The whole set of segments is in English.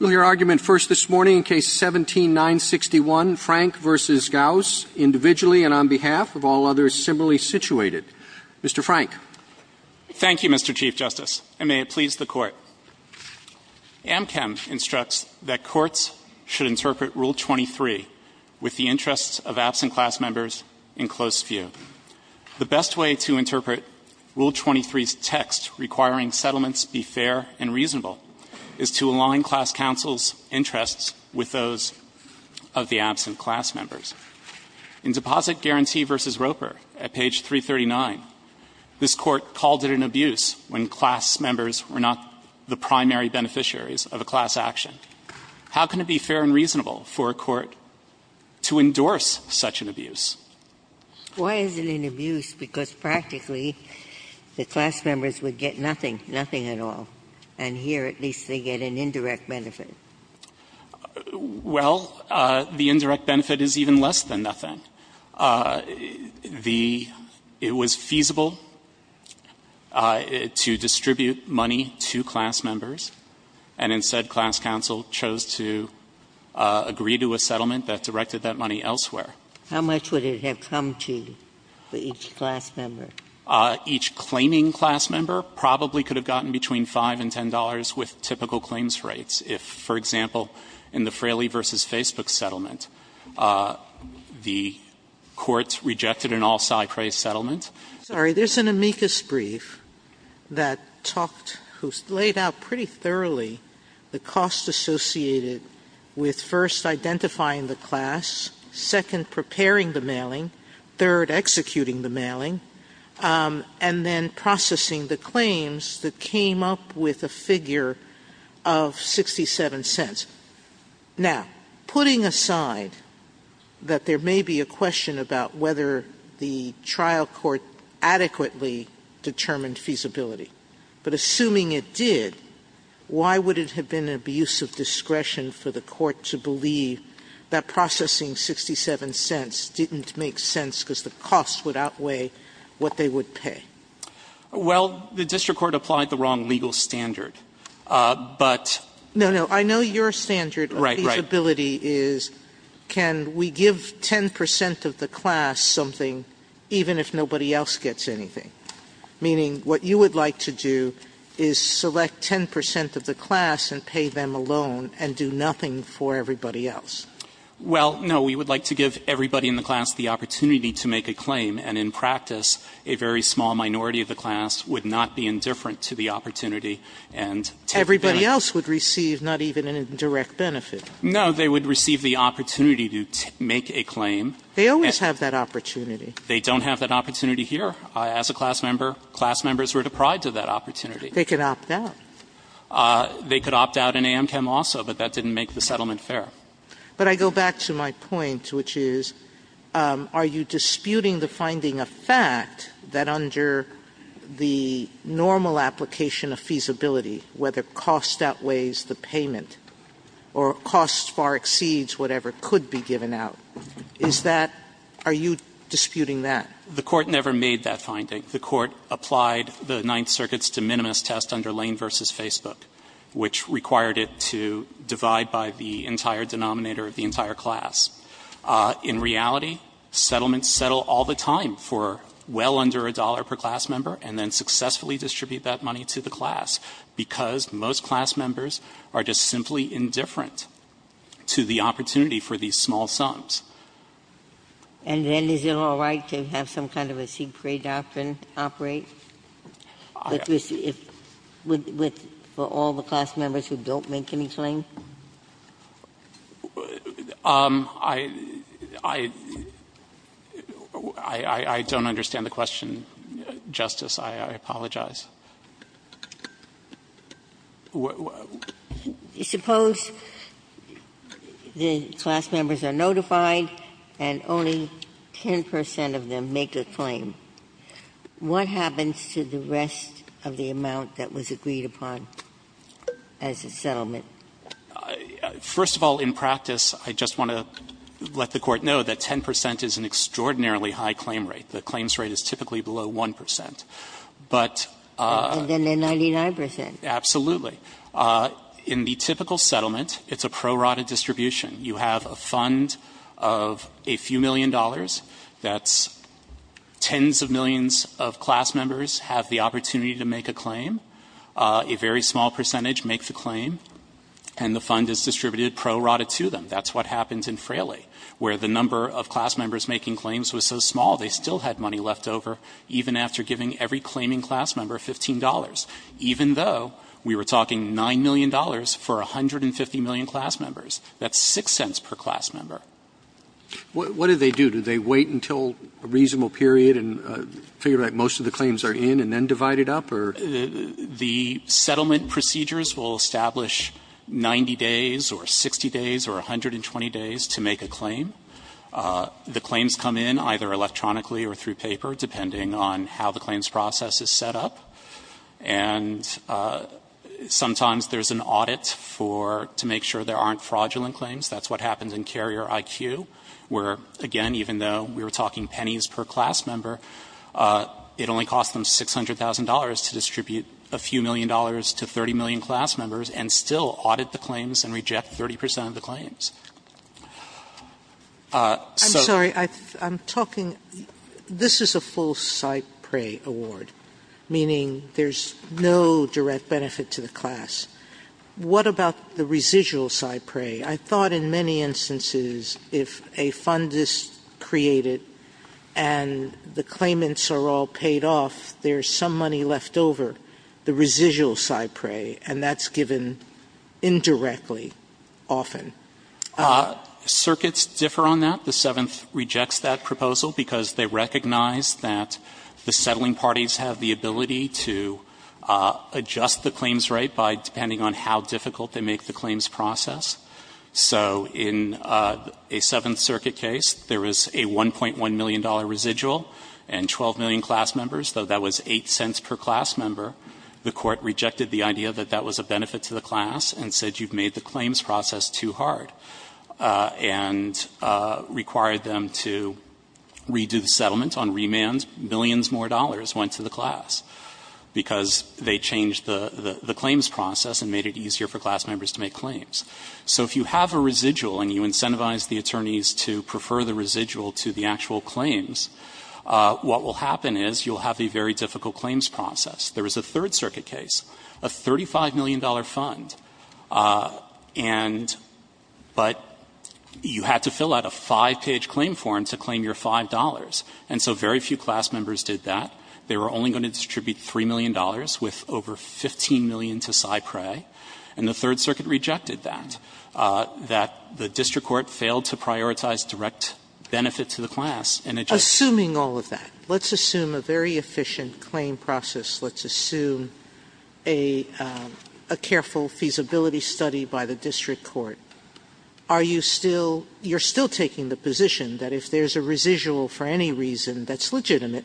individually and on behalf of all others similarly situated. Mr. Frank. Thank you, Mr. Chief Justice, and may it please the Court. Amchem instructs that courts should interpret Rule 23 with the interests of absent class members in close view. The best way to interpret Rule 23's text requiring settlements be fair and reasonable is to align class counsel's interests with those of the absent class members. In Deposit Guarantee v. Roper at page 339, this Court called it an abuse when class members were not the primary beneficiaries of a class action. How can it be fair and reasonable for a court to endorse such an abuse? Why is it an abuse? Because practically, the class members would get nothing. Nothing at all. And here at least they get an indirect benefit. Well, the indirect benefit is even less than nothing. The — it was feasible to distribute money to class members, and instead class counsel chose to agree to a settlement that directed that money elsewhere. How much would it have come to for each class member? Each claiming class member probably could have gotten between $5 and $10 with typical claims rates. If, for example, in the Fraley v. Facebook settlement, the court rejected an all-side praise settlement. Sorry. There's an amicus brief that talked — who's laid out pretty thoroughly the costs associated with, first, identifying the class, second, preparing the mailing, third, executing the mailing, and then processing the claims that came up with a figure of 67 cents. Now, putting aside that there may be a question about whether the trial court adequately determined feasibility, but assuming it did, why would it have been an abuse of discretion for the court to believe that processing 67 cents didn't make sense because the costs would outweigh what they would pay? Well, the district court applied the wrong legal standard, but — No, no. I know your standard of feasibility is can we give 10 percent of the class something even if nobody else gets anything? Meaning what you would like to do is select 10 percent of the class and pay them alone and do nothing for everybody else. Well, no. We would like to give everybody in the class the opportunity to make a claim, and in practice, a very small minority of the class would not be indifferent to the opportunity and take advantage. Everybody else would receive not even an indirect benefit. No. They would receive the opportunity to make a claim. They always have that opportunity. They don't have that opportunity here. As a class member, class members were deprived of that opportunity. They could opt out. They could opt out in AMCHM also, but that didn't make the settlement fair. But I go back to my point, which is, are you disputing the finding of fact that under the normal application of feasibility, whether cost outweighs the payment or cost far exceeds whatever could be given out? Is that – are you disputing that? The Court never made that finding. The Court applied the Ninth Circuit's de minimis test under Lane v. Facebook, which required it to divide by the entire denominator of the entire class. In reality, settlements settle all the time for well under a dollar per class member and then successfully distribute that money to the class, because most class members are just simply indifferent to the opportunity for these small sums. And then is it all right to have some kind of a secret doctrine operate? I don't understand the question, Justice. I apologize. Ginsburg. Suppose the class members are notified and only 10 percent of them make a claim. What happens to the rest of the amount that was agreed upon as a settlement? First of all, in practice, I just want to let the Court know that 10 percent is an extraordinarily high claim rate. The claims rate is typically below 1 percent. But – And then the 99 percent. Absolutely. In the typical settlement, it's a pro rata distribution. You have a fund of a few million dollars. That's tens of millions of class members have the opportunity to make a claim. A very small percentage make the claim, and the fund is distributed pro rata to them. That's what happens in Fraley, where the number of class members making claims was so small, they still had money left over, even after giving every claiming class member $15, even though we were talking $9 million for 150 million class members. That's 6 cents per class member. What do they do? Do they wait until a reasonable period and figure out most of the claims are in and then divide it up, or? The settlement procedures will establish 90 days or 60 days or 120 days to make a claim. The claims come in either electronically or through paper, depending on how the claims process is set up. And sometimes there's an audit for – to make sure there aren't fraudulent claims. That's what happens in Carrier IQ, where, again, even though we were talking pennies per class member, it only cost them $600,000 to distribute a few million dollars to 30 million class members and still audit the claims and reject 30 percent of the claims. So – I'm sorry. I'm talking – this is a full CyPRAE award, meaning there's no direct benefit to the class. What about the residual CyPRAE? I thought in many instances, if a fund is created and the claimants are all paid off, there's some money left over, the residual CyPRAE, and that's given indirectly, often. Circuits differ on that. The Seventh rejects that proposal because they recognize that the settling parties have the ability to adjust the claims rate by depending on how difficult they make the claims process. So in a Seventh Circuit case, there was a $1.1 million residual and 12 million class members, though that was 8 cents per class member. The Court rejected the idea that that was a benefit to the class and said you've made the claims process too hard and required them to redo the settlement on remand. Millions more dollars went to the class because they changed the claims process and made it easier for class members to make claims. So if you have a residual and you incentivize the attorneys to prefer the residual to the actual claims, what will happen is you'll have a very difficult claims process. There was a Third Circuit case, a $35 million fund, and but you had to fill out a 5-page claim form to claim your $5. And so very few class members did that. They were only going to distribute $3 million with over 15 million to CyPRAE. And the Third Circuit rejected that. That the district court failed to prioritize direct benefit to the class. Sotomayor, assuming all of that, let's assume a very efficient claim process. Let's assume a careful feasibility study by the district court. Are you still, you're still taking the position that if there's a residual for any reason that's legitimate,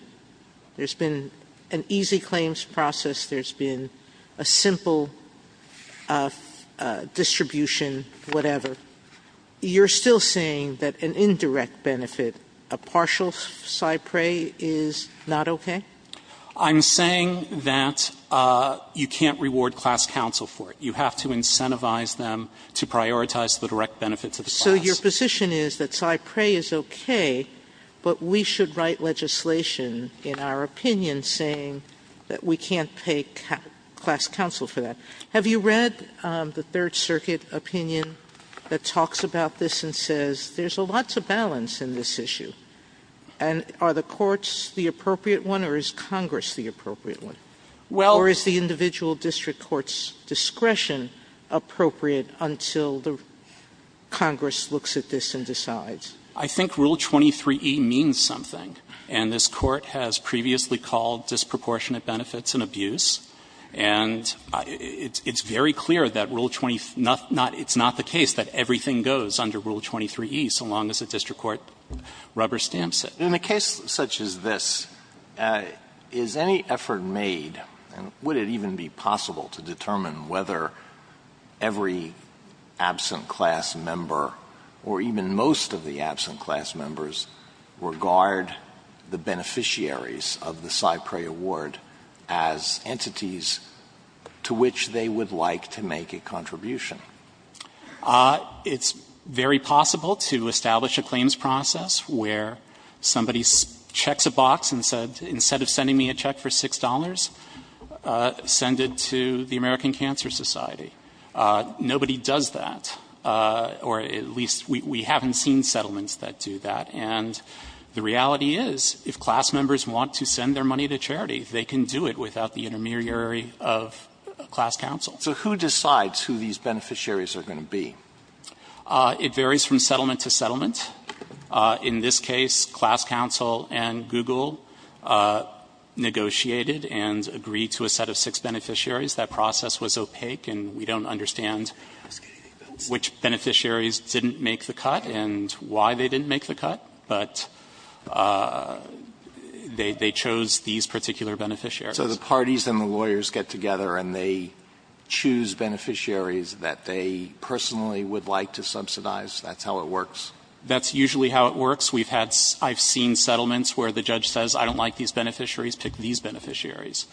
there's been an easy claims process, there's been a simple distribution, whatever, you're still saying that an indirect benefit, a partial CyPRAE, is not okay? I'm saying that you can't reward class counsel for it. You have to incentivize them to prioritize the direct benefit to the class. So your position is that CyPRAE is okay, but we should write legislation in our opinion saying that we can't pay class counsel for that. Have you read the Third Circuit opinion that talks about this and says there's a lot to balance in this issue? And are the courts the appropriate one or is Congress the appropriate one? Or is the individual district court's discretion appropriate until the Congress looks at this and decides? I think Rule 23e means something. And this Court has previously called disproportionate benefits an abuse. And it's very clear that Rule 23, it's not the case that everything goes under Rule 23e so long as the district court rubber stamps it. In a case such as this, is any effort made, and would it even be possible to determine whether every absent class member or even most of the absent class members regard the beneficiaries of the CyPRAE award as entities to which they would like to make a contribution? It's very possible to establish a claims process where somebody checks a box and said, instead of sending me a check for $6, send it to the American Cancer Society. Nobody does that, or at least we haven't seen settlements that do that. And the reality is if class members want to send their money to charity, they can do it without the intermediary of class counsel. So who decides who these beneficiaries are going to be? It varies from settlement to settlement. In this case, class counsel and Google negotiated and agreed to a set of six beneficiaries. That process was opaque, and we don't understand which beneficiaries didn't make the cut and why they didn't make the cut, but they chose these particular beneficiaries. So the parties and the lawyers get together and they choose beneficiaries that they personally would like to subsidize? That's how it works? That's usually how it works. We've had – I've seen settlements where the judge says I don't like these beneficiaries, pick these beneficiaries.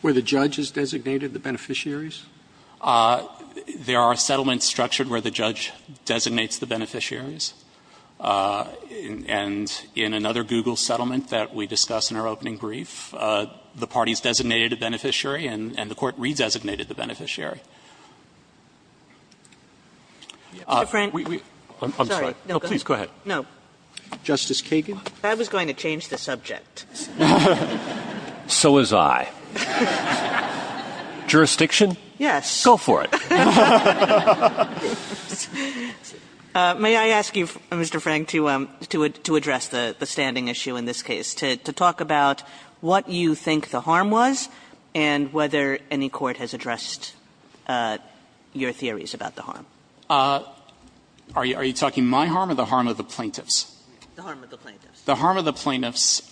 Where the judge has designated the beneficiaries? There are settlements structured where the judge designates the beneficiaries. And in another Google settlement that we discussed in our opening brief, the parties designated a beneficiary and the court redesignated the beneficiary. Kagan. I'm sorry. Please go ahead. Justice Kagan. I was going to change the subject. So was I. Jurisdiction? Yes. Go for it. May I ask you, Mr. Frank, to address the standing issue in this case, to talk about what you think the harm was and whether any court has addressed your theories about the harm? Are you talking my harm or the harm of the plaintiffs? The harm of the plaintiffs. The harm of the plaintiffs.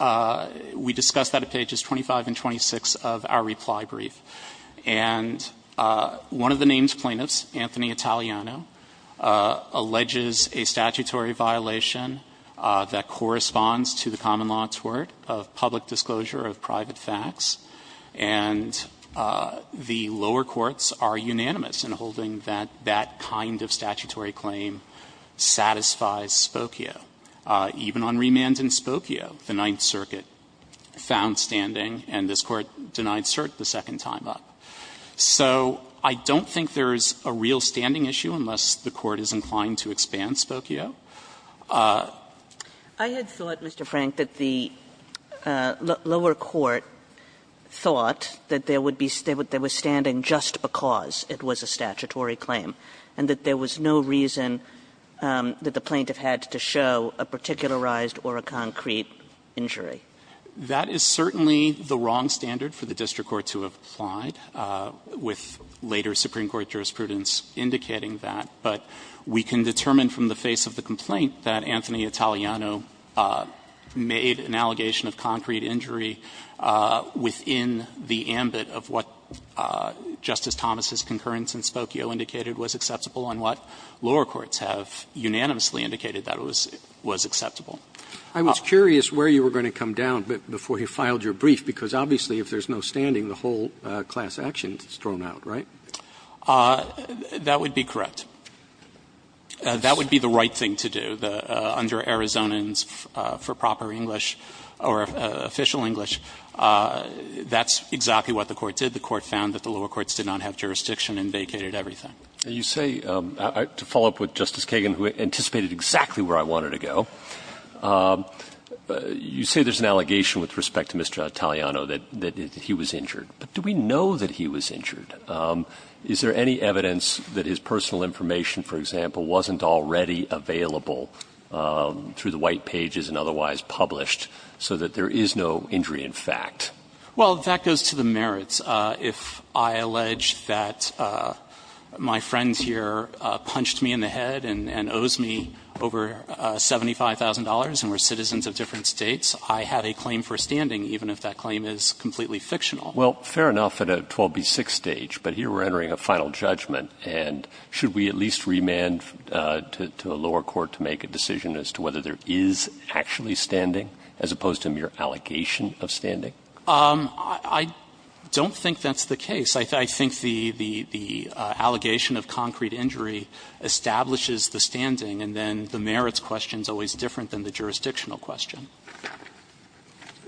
We discussed that at pages 25 and 26 of our reply brief. And one of the named plaintiffs, Anthony Italiano, alleges a statutory violation that corresponds to the common law tort of public disclosure of private facts. And the lower courts are unanimous in holding that that kind of statutory claim satisfies Spokio. Even on remand in Spokio, the Ninth Circuit found standing, and this Court denied cert the second time up. So I don't think there's a real standing issue unless the Court is inclined to expand Spokio. I had thought, Mr. Frank, that the lower court thought that there would be standing just because it was a statutory claim, and that there was no reason that the plaintiff had to show a particularized or a concrete injury. That is certainly the wrong standard for the district court to have applied, with later Supreme Court jurisprudence indicating that. But we can determine from the face of the complaint that Anthony Italiano made an allegation of concrete injury within the ambit of what Justice Thomas' concurrence in Spokio indicated was acceptable, and what lower courts have unanimously indicated that was acceptable. Roberts. I was curious where you were going to come down before you filed your brief, because obviously if there's no standing, the whole class action is thrown out, right? That would be correct. That would be the right thing to do, under Arizonans, for proper English, or official English. That's exactly what the Court did. The Court found that the lower courts did not have jurisdiction and vacated everything. You say, to follow up with Justice Kagan, who anticipated exactly where I wanted to go, you say there's an allegation with respect to Mr. Italiano that he was injured. But do we know that he was injured? Is there any evidence that his personal information, for example, wasn't already available through the White Pages and otherwise published so that there is no injury in fact? Well, that goes to the merits. If I allege that my friend here punched me in the head and owes me over $75,000 and we're citizens of different States, I have a claim for standing, even if that claim is completely fictional. Well, fair enough at a 12B6 stage, but here we're entering a final judgment. And should we at least remand to a lower court to make a decision as to whether there is actually standing, as opposed to mere allegation of standing? I don't think that's the case. I think the allegation of concrete injury establishes the standing, and then the merits question is always different than the jurisdictional question.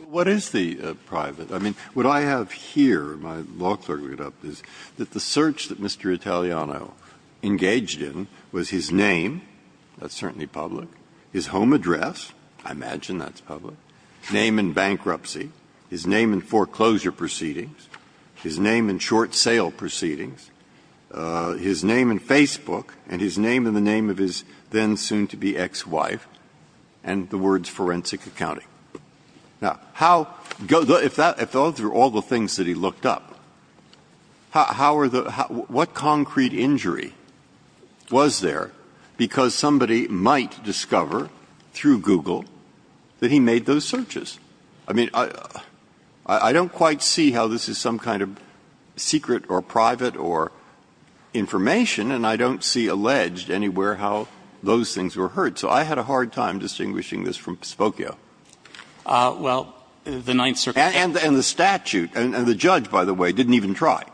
What is the private? I mean, what I have here, my law clerk read up, is that the search that Mr. Italiano engaged in was his name, that's certainly public, his home address, I imagine that's public, name in bankruptcy, his name in foreclosure proceedings, his name in short sale proceedings, his name in Facebook, and his name in the name of his then-soon-to-be ex-wife, and the words forensic accounting. Now, how goes the – if that – if all the things that he looked up, how are the – what concrete injury was there because somebody might discover through Google that he made those searches? I mean, I don't quite see how this is some kind of secret or private or information, and I don't see alleged anywhere how those things were heard. So I had a hard time distinguishing this from Spokio. Well, the Ninth Circuit – And the statute, and the judge, by the way, didn't even try.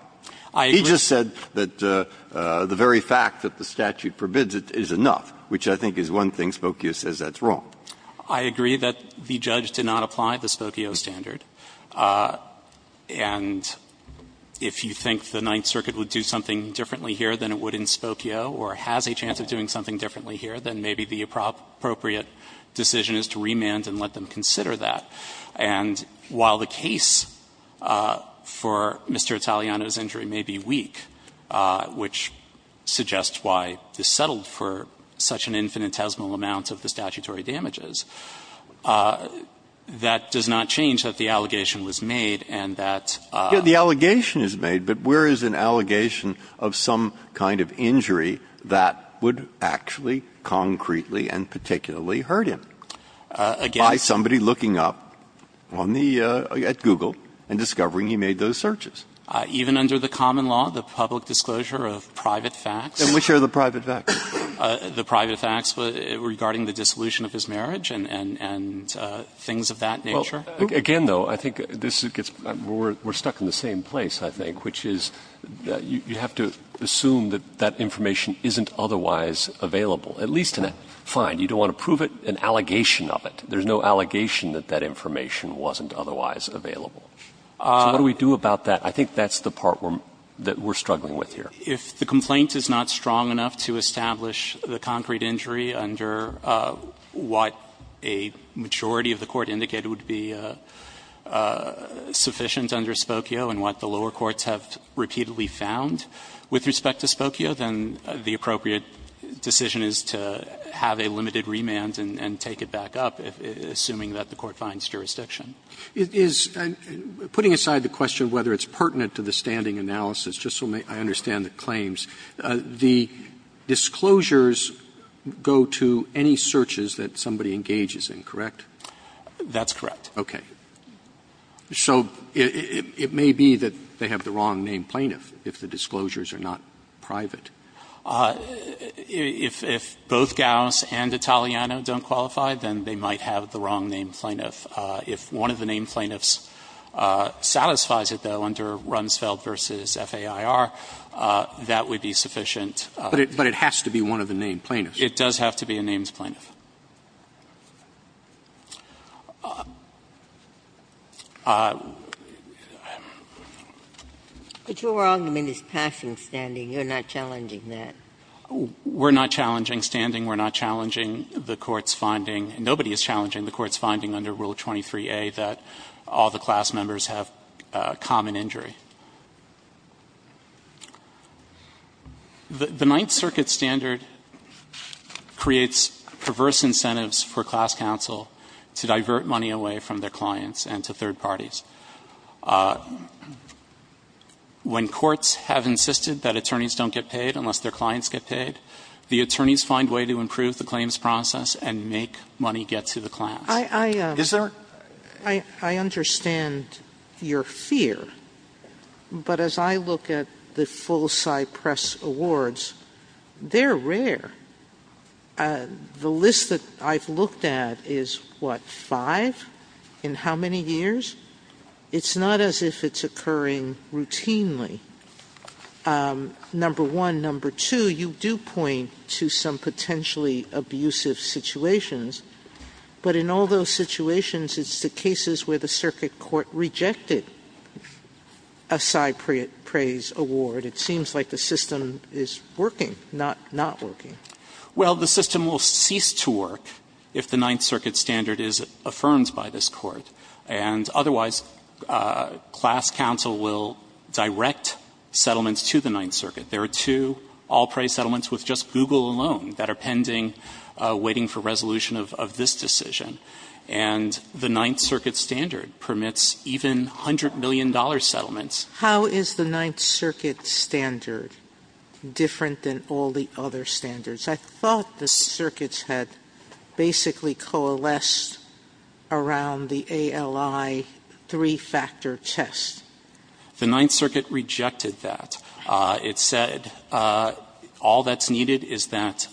I agree. He just said that the very fact that the statute forbids it is enough, which I think is one thing Spokio says that's wrong. I agree that the judge did not apply the Spokio standard. And if you think the Ninth Circuit would do something differently here than it would in Spokio, or has a chance of doing something differently here, then maybe the appropriate decision is to remand and let them consider that. And while the case for Mr. Italiano's injury may be weak, which suggests why this settled for such an infinitesimal amount of the statutory damages, that does not change that the allegation was made and that – The allegation is made, but where is an allegation of some kind of injury that would actually concretely and particularly hurt him? Again – By somebody looking up on the – at Google and discovering he made those searches. Even under the common law, the public disclosure of private facts – And which are the private facts? The private facts regarding the dissolution of his marriage and things of that nature. Again, though, I think this gets – we're stuck in the same place, I think, which is you have to assume that that information isn't otherwise available. At least in a – fine, you don't want to prove it, an allegation of it. There's no allegation that that information wasn't otherwise available. So what do we do about that? I think that's the part that we're struggling with here. If the complaint is not strong enough to establish the concrete injury under what a majority of the court indicated would be sufficient under Spokio and what the lower with respect to Spokio, then the appropriate decision is to have a limited remand and take it back up, assuming that the court finds jurisdiction. Is – putting aside the question whether it's pertinent to the standing analysis, just so I understand the claims, the disclosures go to any searches that somebody That's correct. Okay. So it may be that they have the wrong named plaintiff if the disclosures are not private. If both Gauss and Italiano don't qualify, then they might have the wrong named plaintiff. If one of the named plaintiffs satisfies it, though, under Runsfeld versus FAIR, that would be sufficient. But it has to be one of the named plaintiffs. It does have to be a named plaintiff. But your argument is passing standing. You're not challenging that. We're not challenging standing. We're not challenging the court's finding. Nobody is challenging the court's finding under Rule 23a that all the class members have common injury. The Ninth Circuit standard creates perverse incentives for class counsel to divert money away from their clients and to third parties. When courts have insisted that attorneys don't get paid unless their clients get paid, the attorneys find a way to improve the claims process and make money get to the class. Is there? I understand your fear. But as I look at the full-size press awards, they're rare. The list that I've looked at is, what, five? In how many years? It's not as if it's occurring routinely. Number one. Number two, you do point to some potentially abusive situations. But in all those situations, it's the cases where the circuit court rejected a side praise award. It seems like the system is working, not working. Well, the system will cease to work if the Ninth Circuit standard is affirmed by this Court. And otherwise, class counsel will direct settlements to the Ninth Circuit. There are two all-praise settlements with just Google alone that are pending, waiting for resolution of this decision. And the Ninth Circuit standard permits even $100 million settlements. How is the Ninth Circuit standard different than all the other standards? I thought the circuits had basically coalesced around the ALI three-factor test. The Ninth Circuit rejected that. It said all that's needed is that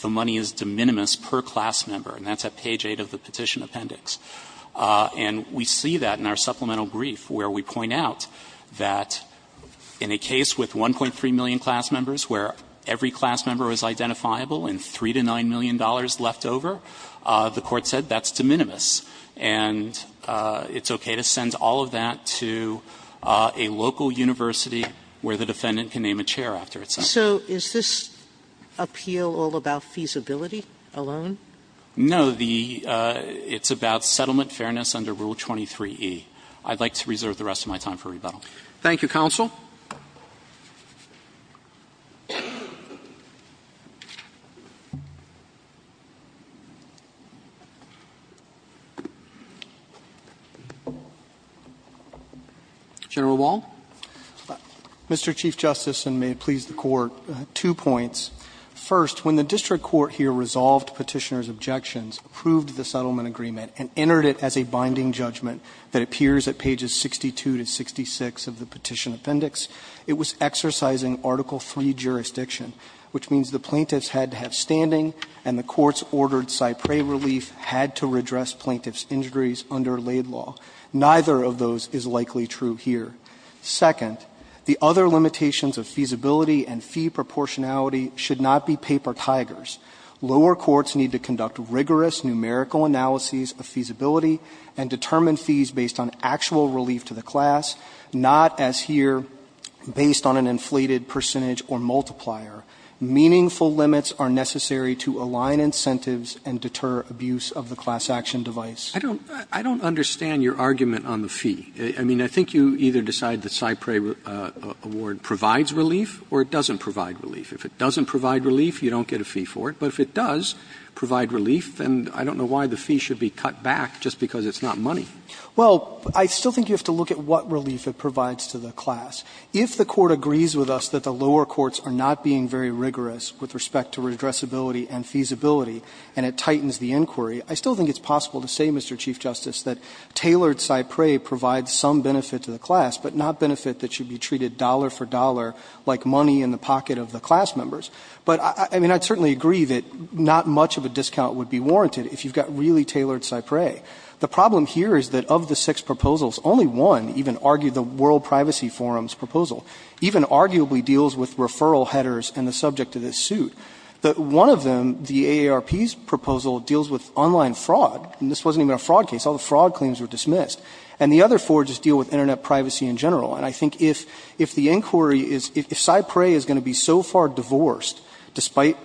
the money is de minimis per class member. And that's at page 8 of the Petition Appendix. And we see that in our supplemental brief where we point out that in a case with 1.3 million class members where every class member is identifiable and $3 to $9 million left over, the Court said that's de minimis. And it's okay to send all of that to a local university where the defendant can name a chair after it's sent. So is this appeal all about feasibility alone? No. It's about settlement fairness under Rule 23e. I'd like to reserve the rest of my time for rebuttal. Thank you, Counsel. General Wall. Mr. Chief Justice, and may it please the Court, two points. First, when the district court here resolved Petitioner's objections, approved the settlement agreement, and entered it as a binding judgment that appears at pages 62 to 66 of the Petition Appendix, it was exercising Article III jurisdiction, which means the plaintiffs had to have standing, and the Court's ordered Cypre relief had to redress plaintiffs' injuries under Laid Law. Neither of those is likely true here. Second, the other limitations of feasibility and fee proportionality should not be paper tigers. Lower courts need to conduct rigorous numerical analyses of feasibility and determine fees based on actual relief to the class, not, as here, based on an inflated percentage or multiplier. Meaningful limits are necessary to align incentives and deter abuse of the class action device. I don't understand your argument on the fee. I mean, I think you either decide that Cypre award provides relief or it doesn't provide relief. If it doesn't provide relief, you don't get a fee for it. But if it does provide relief, then I don't know why the fee should be cut back just because it's not money. Well, I still think you have to look at what relief it provides to the class. If the Court agrees with us that the lower courts are not being very rigorous with respect to redressability and feasibility, and it tightens the inquiry, I still think it's possible to say, Mr. Chief Justice, that tailored Cypre provides some benefit to the class, but not benefit that should be treated dollar for dollar like money in the pocket of the class members. But, I mean, I'd certainly agree that not much of a discount would be warranted if you've got really tailored Cypre. The problem here is that of the six proposals, only one even argued the World Privacy Forum's proposal even arguably deals with referral headers and the subject of this suit. But one of them, the AARP's proposal, deals with online fraud. And this wasn't even a fraud case. All the fraud claims were dismissed. And the other four just deal with Internet privacy in general. And I think if the inquiry is – if Cypre is going to be so far divorced, despite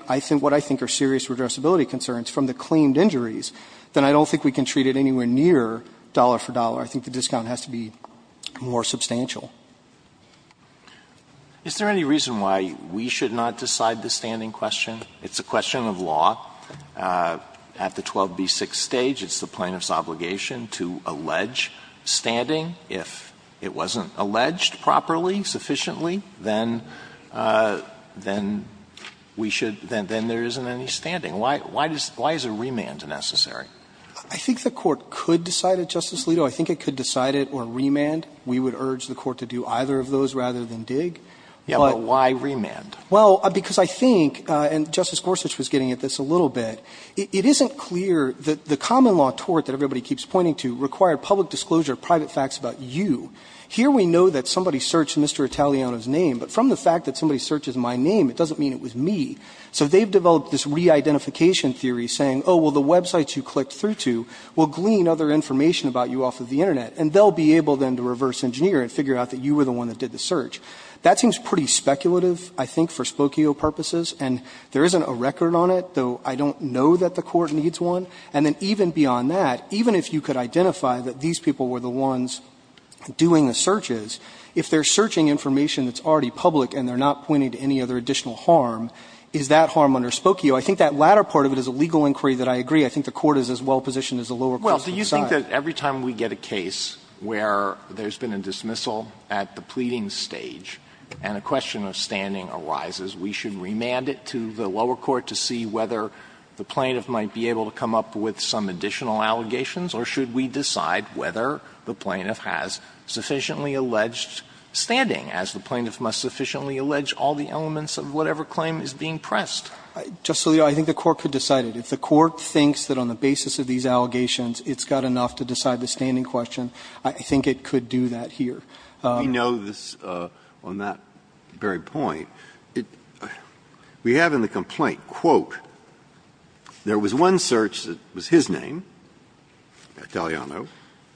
what I think are serious redressability concerns from the claimed injuries, then I don't think we can treat it anywhere near dollar for dollar. I think the discount has to be more substantial. Alito, is there any reason why we should not decide the standing question? It's a question of law. At the 12b6 stage it's the plaintiff's obligation to allege standing. If it wasn't alleged properly, sufficiently, then we should – then there isn't any standing. Why is a remand necessary? I think the Court could decide it, Justice Alito. I think it could decide it or remand. We would urge the Court to do either of those rather than dig. But why remand? Well, because I think, and Justice Gorsuch was getting at this a little bit, it isn't clear that the common law tort that everybody keeps pointing to required public disclosure of private facts about you. Here we know that somebody searched Mr. Italiano's name, but from the fact that somebody searches my name, it doesn't mean it was me. So they've developed this re-identification theory saying, oh, well, the websites you clicked through to will glean other information about you off of the Internet, and they'll be able then to reverse engineer and figure out that you were the one that did the search. That seems pretty speculative, I think, for Spokio purposes. And there isn't a record on it, though I don't know that the Court needs one. And then even beyond that, even if you could identify that these people were the ones doing the searches, if they're searching information that's already public and they're not pointing to any other additional harm, is that harm under Spokio? I think that latter part of it is a legal inquiry that I agree. Alito, I think that every time we get a case where there's been a dismissal at the pleading stage and a question of standing arises, we should remand it to the lower court to see whether the plaintiff might be able to come up with some additional allegations, or should we decide whether the plaintiff has sufficiently alleged standing, as the plaintiff must sufficiently allege all the elements of whatever claim is being pressed? Spiro, I think the Court could decide it. If the Court thinks that on the basis of these allegations, it's got enough to decide the standing question, I think it could do that here. Breyer, we know this on that very point. We have in the complaint, quote, there was one search that was his name, Italiano,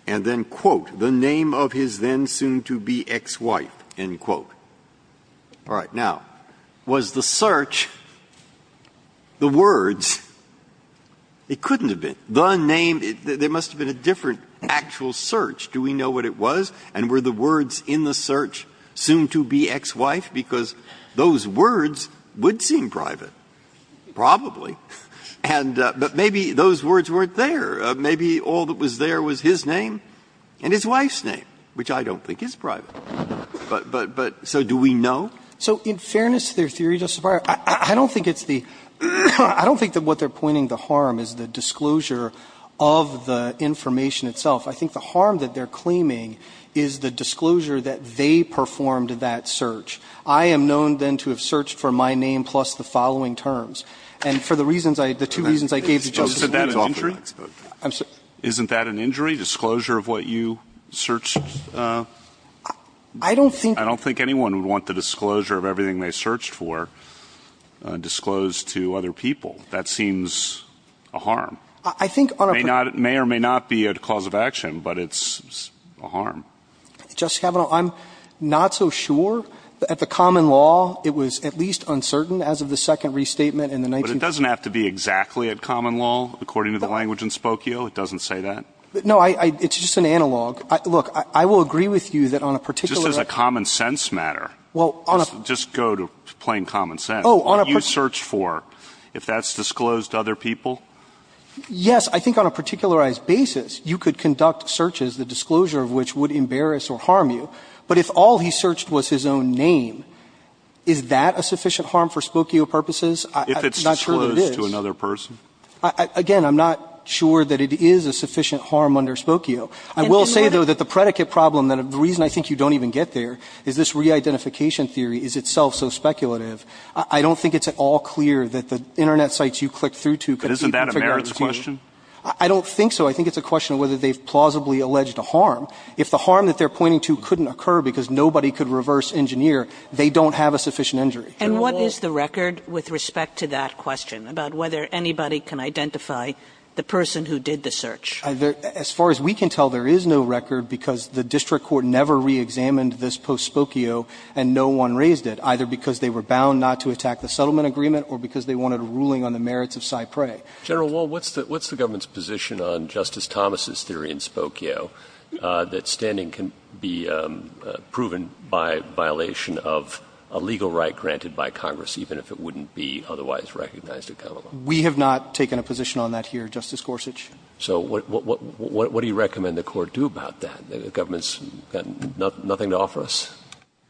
and then, quote, the name of his then soon-to-be ex-wife, end quote. All right. Now, was the search the words? It couldn't have been. The name, there must have been a different actual search. Do we know what it was? And were the words in the search soon-to-be ex-wife? Because those words would seem private, probably. And but maybe those words weren't there. Maybe all that was there was his name and his wife's name, which I don't think is private. But so do we know? So in fairness to their theory, Justice Breyer, I don't think it's the – I don't think that what they're pointing to harm is the disclosure of the information itself. I think the harm that they're claiming is the disclosure that they performed that search. I am known then to have searched for my name plus the following terms. And for the reasons I – the two reasons I gave to Justice Sotomayor's offer to expose the facts. Isn't that an injury, disclosure of what you searched? I don't think – I don't think anyone would want the disclosure of everything they searched for disclosed to other people. That seems a harm. I think on a – It may or may not be a cause of action, but it's a harm. Justice Kavanaugh, I'm not so sure. At the common law, it was at least uncertain as of the second restatement in the 19 – But it doesn't have to be exactly at common law. According to the language in Spokio, it doesn't say that. No, I – it's just an analog. Look, I will agree with you that on a particular – Just as a common sense matter. Well, on a – Just go to plain common sense. Oh, on a – What you searched for, if that's disclosed to other people? Yes. I think on a particularized basis, you could conduct searches, the disclosure of which would embarrass or harm you. But if all he searched was his own name, is that a sufficient harm for Spokio purposes? I'm not sure that it is. If it's disclosed to another person? Again, I'm not sure that it is a sufficient harm under Spokio. I will say, though, that the predicate problem, the reason I think you don't even get there, is this re-identification theory is itself so speculative. I don't think it's at all clear that the Internet sites you clicked through to could be – But isn't that a merits question? I don't think so. I think it's a question of whether they've plausibly alleged a harm. If the harm that they're pointing to couldn't occur because nobody could reverse engineer, they don't have a sufficient injury. And what is the record with respect to that question, about whether anybody can identify the person who did the search? As far as we can tell, there is no record, because the district court never re-examined this post-Spokio, and no one raised it, either because they were bound not to attack the settlement agreement or because they wanted a ruling on the merits of Cyprey. General Wall, what's the government's position on Justice Thomas' theory in Spokio that standing can be proven by violation of a legal right granted by Congress, even if it wouldn't be otherwise recognized in common law? We have not taken a position on that here, Justice Gorsuch. So what do you recommend the Court do about that? The government's got nothing to offer us?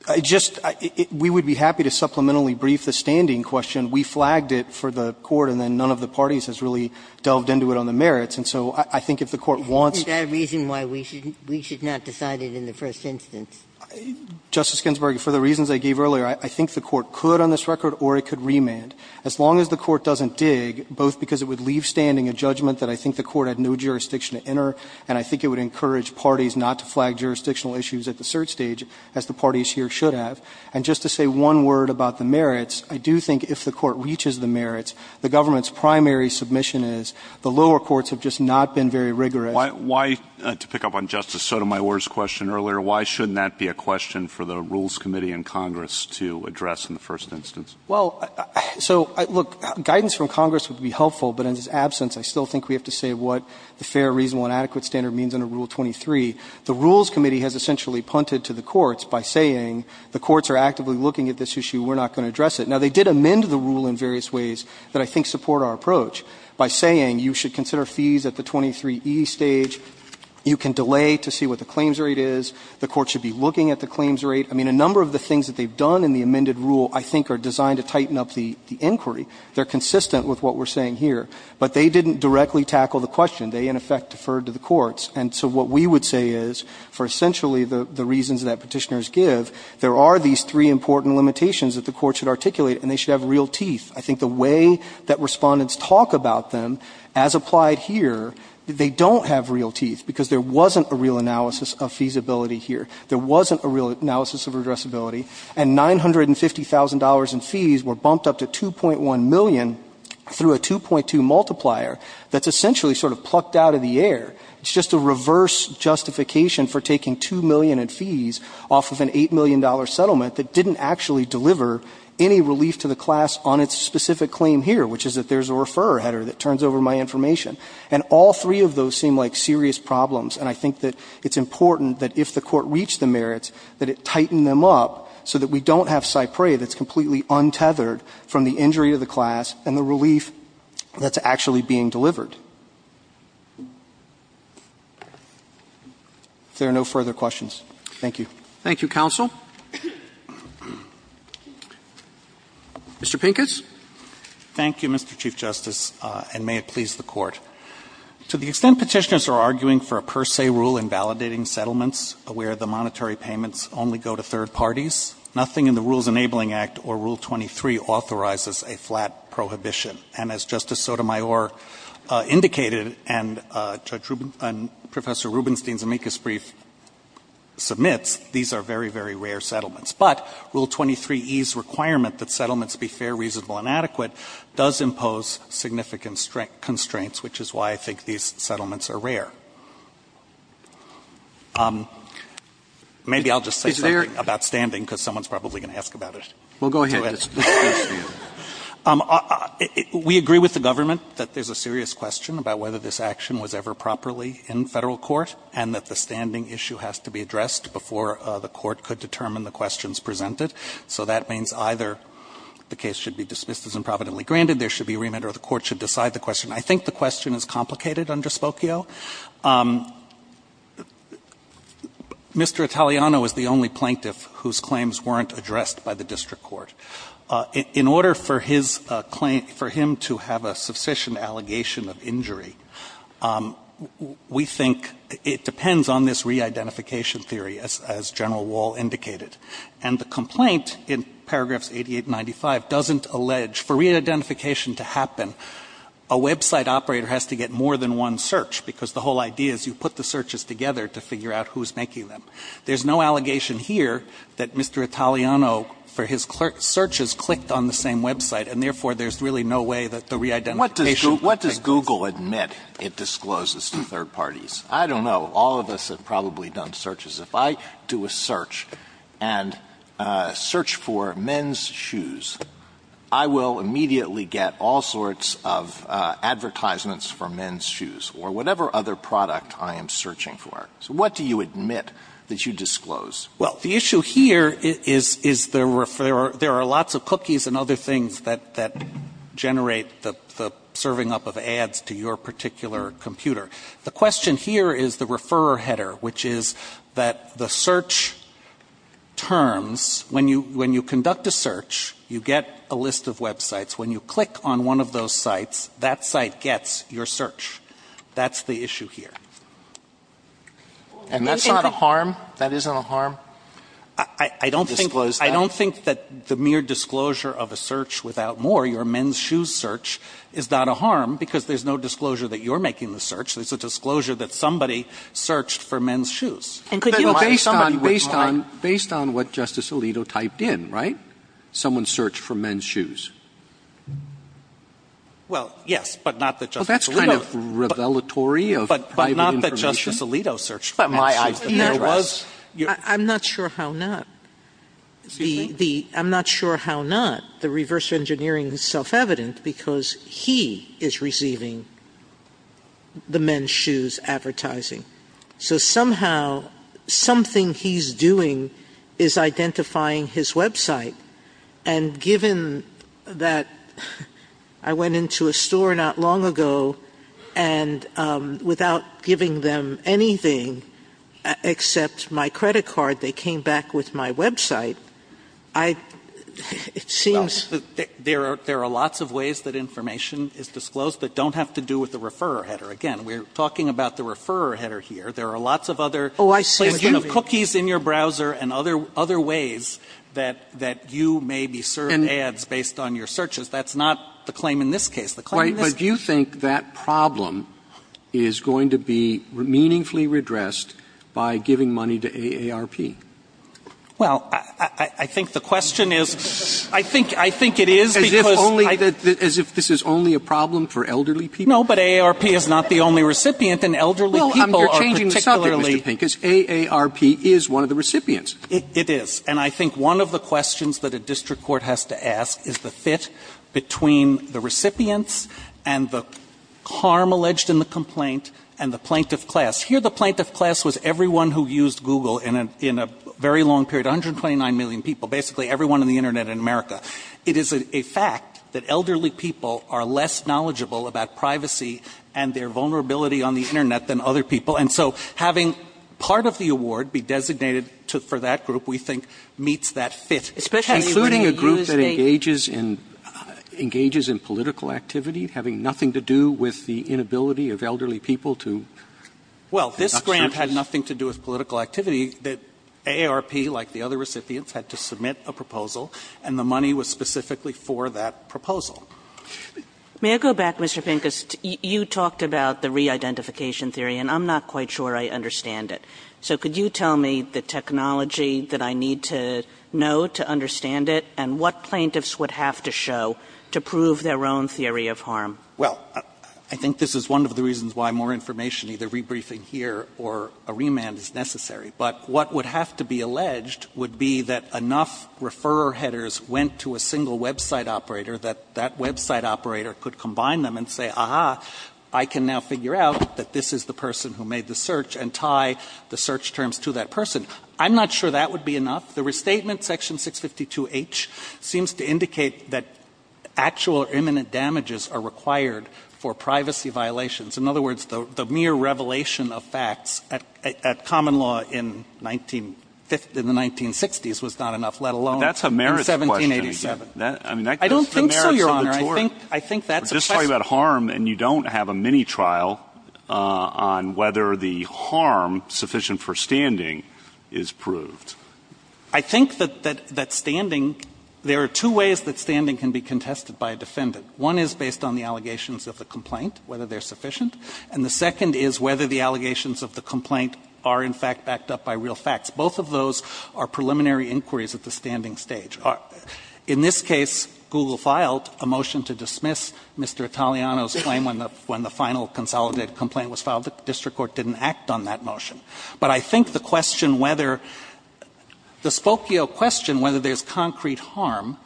I just – we would be happy to supplementarily brief the standing question. We flagged it for the Court, and then none of the parties has really delved into it on the merits. And so I think if the Court wants to – Is that a reason why we should not decide it in the first instance? Justice Ginsburg, for the reasons I gave earlier, I think the Court could on this record, or it could remand. As long as the Court doesn't dig, both because it would leave standing a judgment that I think the Court had no jurisdiction to enter, and I think it would encourage parties not to flag jurisdictional issues at the cert stage, as the parties here should have. And just to say one word about the merits, I do think if the Court reaches the merits, the government's primary submission is the lower courts have just not been very rigorous. Why – to pick up on Justice Sotomayor's question earlier, why shouldn't that be a question for the Rules Committee and Congress to address in the first instance? Well, so look, guidance from Congress would be helpful, but in its absence, I still think we have to say what the fair, reasonable, and adequate standard means under Rule 23. The Rules Committee has essentially punted to the courts by saying the courts are actively looking at this issue. We're not going to address it. Now, they did amend the rule in various ways that I think support our approach by saying you should consider fees at the 23e stage, you can delay to see what the claims rate is, the court should be looking at the claims rate. I mean, a number of the things that they've done in the amended rule I think are designed to tighten up the inquiry. They're consistent with what we're saying here. But they didn't directly tackle the question. They, in effect, deferred to the courts. And so what we would say is, for essentially the reasons that Petitioners give, there are these three important limitations that the courts should articulate, and they should have real teeth. I think the way that Respondents talk about them, as applied here, they don't have real teeth, because there wasn't a real analysis of feasibility here. There wasn't a real analysis of redressability, and $950,000 in fees were bumped up to $2.1 million through a 2.2 multiplier that's essentially sort of plucked out of the air. It's just a reverse justification for taking $2 million in fees off of an $8 million settlement that didn't actually deliver any relief to the class on its specific claim here, which is that there's a referrer header that turns over my information. And all three of those seem like serious problems, and I think that it's important that if the court reached the merits, that it tighten them up so that we don't have to be untethered from the injury to the class and the relief that's actually being delivered. If there are no further questions, thank you. Roberts. Thank you, counsel. Mr. Pincus. Thank you, Mr. Chief Justice, and may it please the Court. To the extent Petitioners are arguing for a per se rule in validating settlements where the monetary payments only go to third parties, nothing in the Rules Enabling Act or Rule 23 authorizes a flat prohibition. And as Justice Sotomayor indicated and Judge Ruben — and Professor Rubenstein's amicus brief submits, these are very, very rare settlements. But Rule 23e's requirement that settlements be fair, reasonable, and adequate does impose significant constraints, which is why I think these settlements are rare. Maybe I'll just say something about standing because someone's probably going to ask about it. Well, go ahead. We agree with the government that there's a serious question about whether this action was ever properly in Federal court and that the standing issue has to be addressed before the Court could determine the questions presented. So that means either the case should be dismissed as improvidently granted, there should be remand, or the Court should decide the question. I think the question is complicated under Spokio. Mr. Italiano is the only plaintiff whose claims weren't addressed by the district court. In order for his claim — for him to have a substitution allegation of injury, we think it depends on this re-identification theory, as General Wall indicated. And the complaint in paragraphs 88 and 95 doesn't allege for re-identification to happen, a website operator has to get more than one search because the whole idea is you put the searches together to figure out who's making them. There's no allegation here that Mr. Italiano, for his searches, clicked on the same website, and therefore there's really no way that the re-identification takes place. Alito What does Google admit it discloses to third parties? I don't know. All of us have probably done searches. If I do a search and search for men's shoes, I will immediately get all sorts of advertisements for men's shoes or whatever other product I am searching for. So what do you admit that you disclose? Well, the issue here is — is the — there are lots of cookies and other things that — that generate the — the serving up of ads to your particular computer. The question here is the referrer header, which is that the search terms — when you — when you conduct a search, you get a list of websites. When you click on one of those sites, that site gets your search. That's the issue here. And that's not a harm? That isn't a harm? I don't think — I don't think that the mere disclosure of a search without more, your men's shoes search, is not a harm, because there's no disclosure that you're making the search. There's a disclosure that somebody searched for men's shoes. And could you — Based on — based on — based on what Justice Alito typed in, right? Someone searched for men's shoes. Well, yes, but not that Justice Alito — Well, that's kind of revelatory of private — Well, not that Justice Alito searched for men's shoes, but there was — I'm not sure how not. Excuse me? The — the — I'm not sure how not. The reverse engineering is self-evident because he is receiving the men's shoes advertising. So somehow, something he's doing is identifying his website. And given that I went into a store not long ago, and without giving them anything except my credit card, they came back with my website, I — it seems — Well, there are — there are lots of ways that information is disclosed that don't have to do with the referrer header. Again, we're talking about the referrer header here. Oh, I see what you mean. You have cookies in your browser and other — other ways that — that you may be served ads based on your searches. That's not the claim in this case. The claim in this case — Right. But you think that problem is going to be meaningfully redressed by giving money to AARP? Well, I — I think the question is — I think — I think it is because — As if only — as if this is only a problem for elderly people? No, but AARP is not the only recipient, and elderly people are particularly — Mr. Pincus, AARP is one of the recipients. It is. And I think one of the questions that a district court has to ask is the fit between the recipients and the harm alleged in the complaint and the plaintiff class. Here, the plaintiff class was everyone who used Google in a — in a very long period, 129 million people, basically everyone on the Internet in America. It is a fact that elderly people are less knowledgeable about privacy and their vulnerability on the Internet than other people. And so having part of the award be designated for that group, we think, meets that fit. Especially when you use the — Including a group that engages in — engages in political activity, having nothing to do with the inability of elderly people to — Well, this grant had nothing to do with political activity. The AARP, like the other recipients, had to submit a proposal, and the money was specifically for that proposal. May I go back, Mr. Pincus? You talked about the re-identification theory, and I'm not quite sure I understand it. So could you tell me the technology that I need to know to understand it, and what plaintiffs would have to show to prove their own theory of harm? Well, I think this is one of the reasons why more information, either rebriefing here or a remand, is necessary. But what would have to be alleged would be that enough referrer headers went to a single website operator, that that website operator could combine them and say, aha, I can now figure out that this is the person who made the search and tie the search terms to that person. I'm not sure that would be enough. The restatement, Section 652H, seems to indicate that actual imminent damages are required for privacy violations. In other words, the mere revelation of facts at common law in 1950 — in the 1960s was not enough, let alone — I don't think so, Your Honor. I think that's a question — We're just talking about harm, and you don't have a mini-trial on whether the harm sufficient for standing is proved. I think that standing — there are two ways that standing can be contested by a defendant. One is based on the allegations of the complaint, whether they're sufficient. And the second is whether the allegations of the complaint are, in fact, backed up by real facts. Both of those are preliminary inquiries at the standing stage. In this case, Google filed a motion to dismiss Mr. Italiano's claim when the final consolidated complaint was filed. The district court didn't act on that motion. But I think the question whether — the Spokio question whether there's concrete harm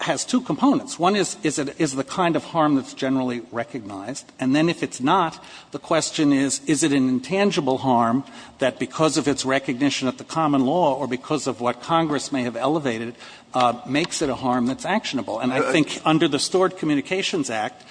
has two components. One is, is it the kind of harm that's generally recognized? And then if it's not, the question is, is it an intangible harm that because of its that Congress may have elevated makes it a harm that's actionable? And I think under the Stored Communications Act,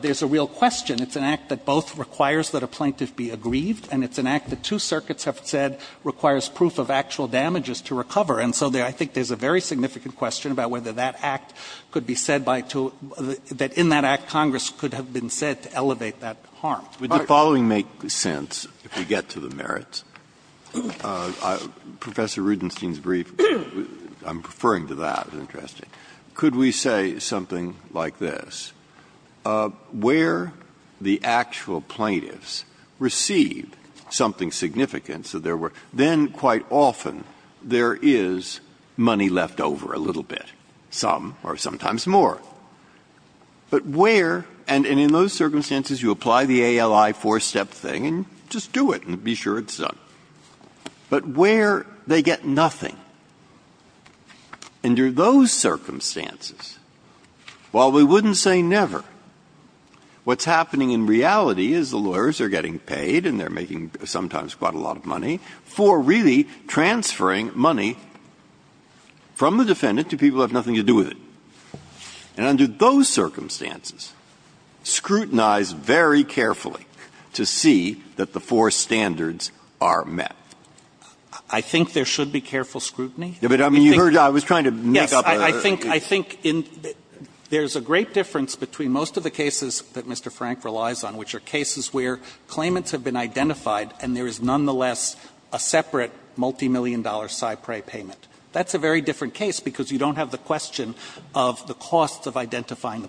there's a real question. It's an act that both requires that a plaintiff be aggrieved, and it's an act that two circuits have said requires proof of actual damages to recover. And so I think there's a very significant question about whether that act could be said by two — that in that act, Congress could have been said to elevate that harm. Would the following make sense if we get to the merits? Professor Rudenstein's brief, I'm referring to that. Interesting. Could we say something like this? Where the actual plaintiffs receive something significant, so there were — then quite often there is money left over a little bit, some or sometimes more. But where — and in those circumstances, you apply the ALI four-step thing and just do it and be sure it's done. But where they get nothing, under those circumstances, while we wouldn't say never, what's happening in reality is the lawyers are getting paid, and they're making sometimes quite a lot of money, for really transferring money from the defendant to people who have nothing to do with it. And under those circumstances, scrutinize very carefully to see that the four standards are met. I think there should be careful scrutiny. But, I mean, you heard — I was trying to make up a — Yes. I think — I think there's a great difference between most of the cases that Mr. Frank relies on, which are cases where claimants have been identified and there is nonetheless a separate multimillion-dollar cypre payment. That's a very different case because you don't have the question of the cost of identifying the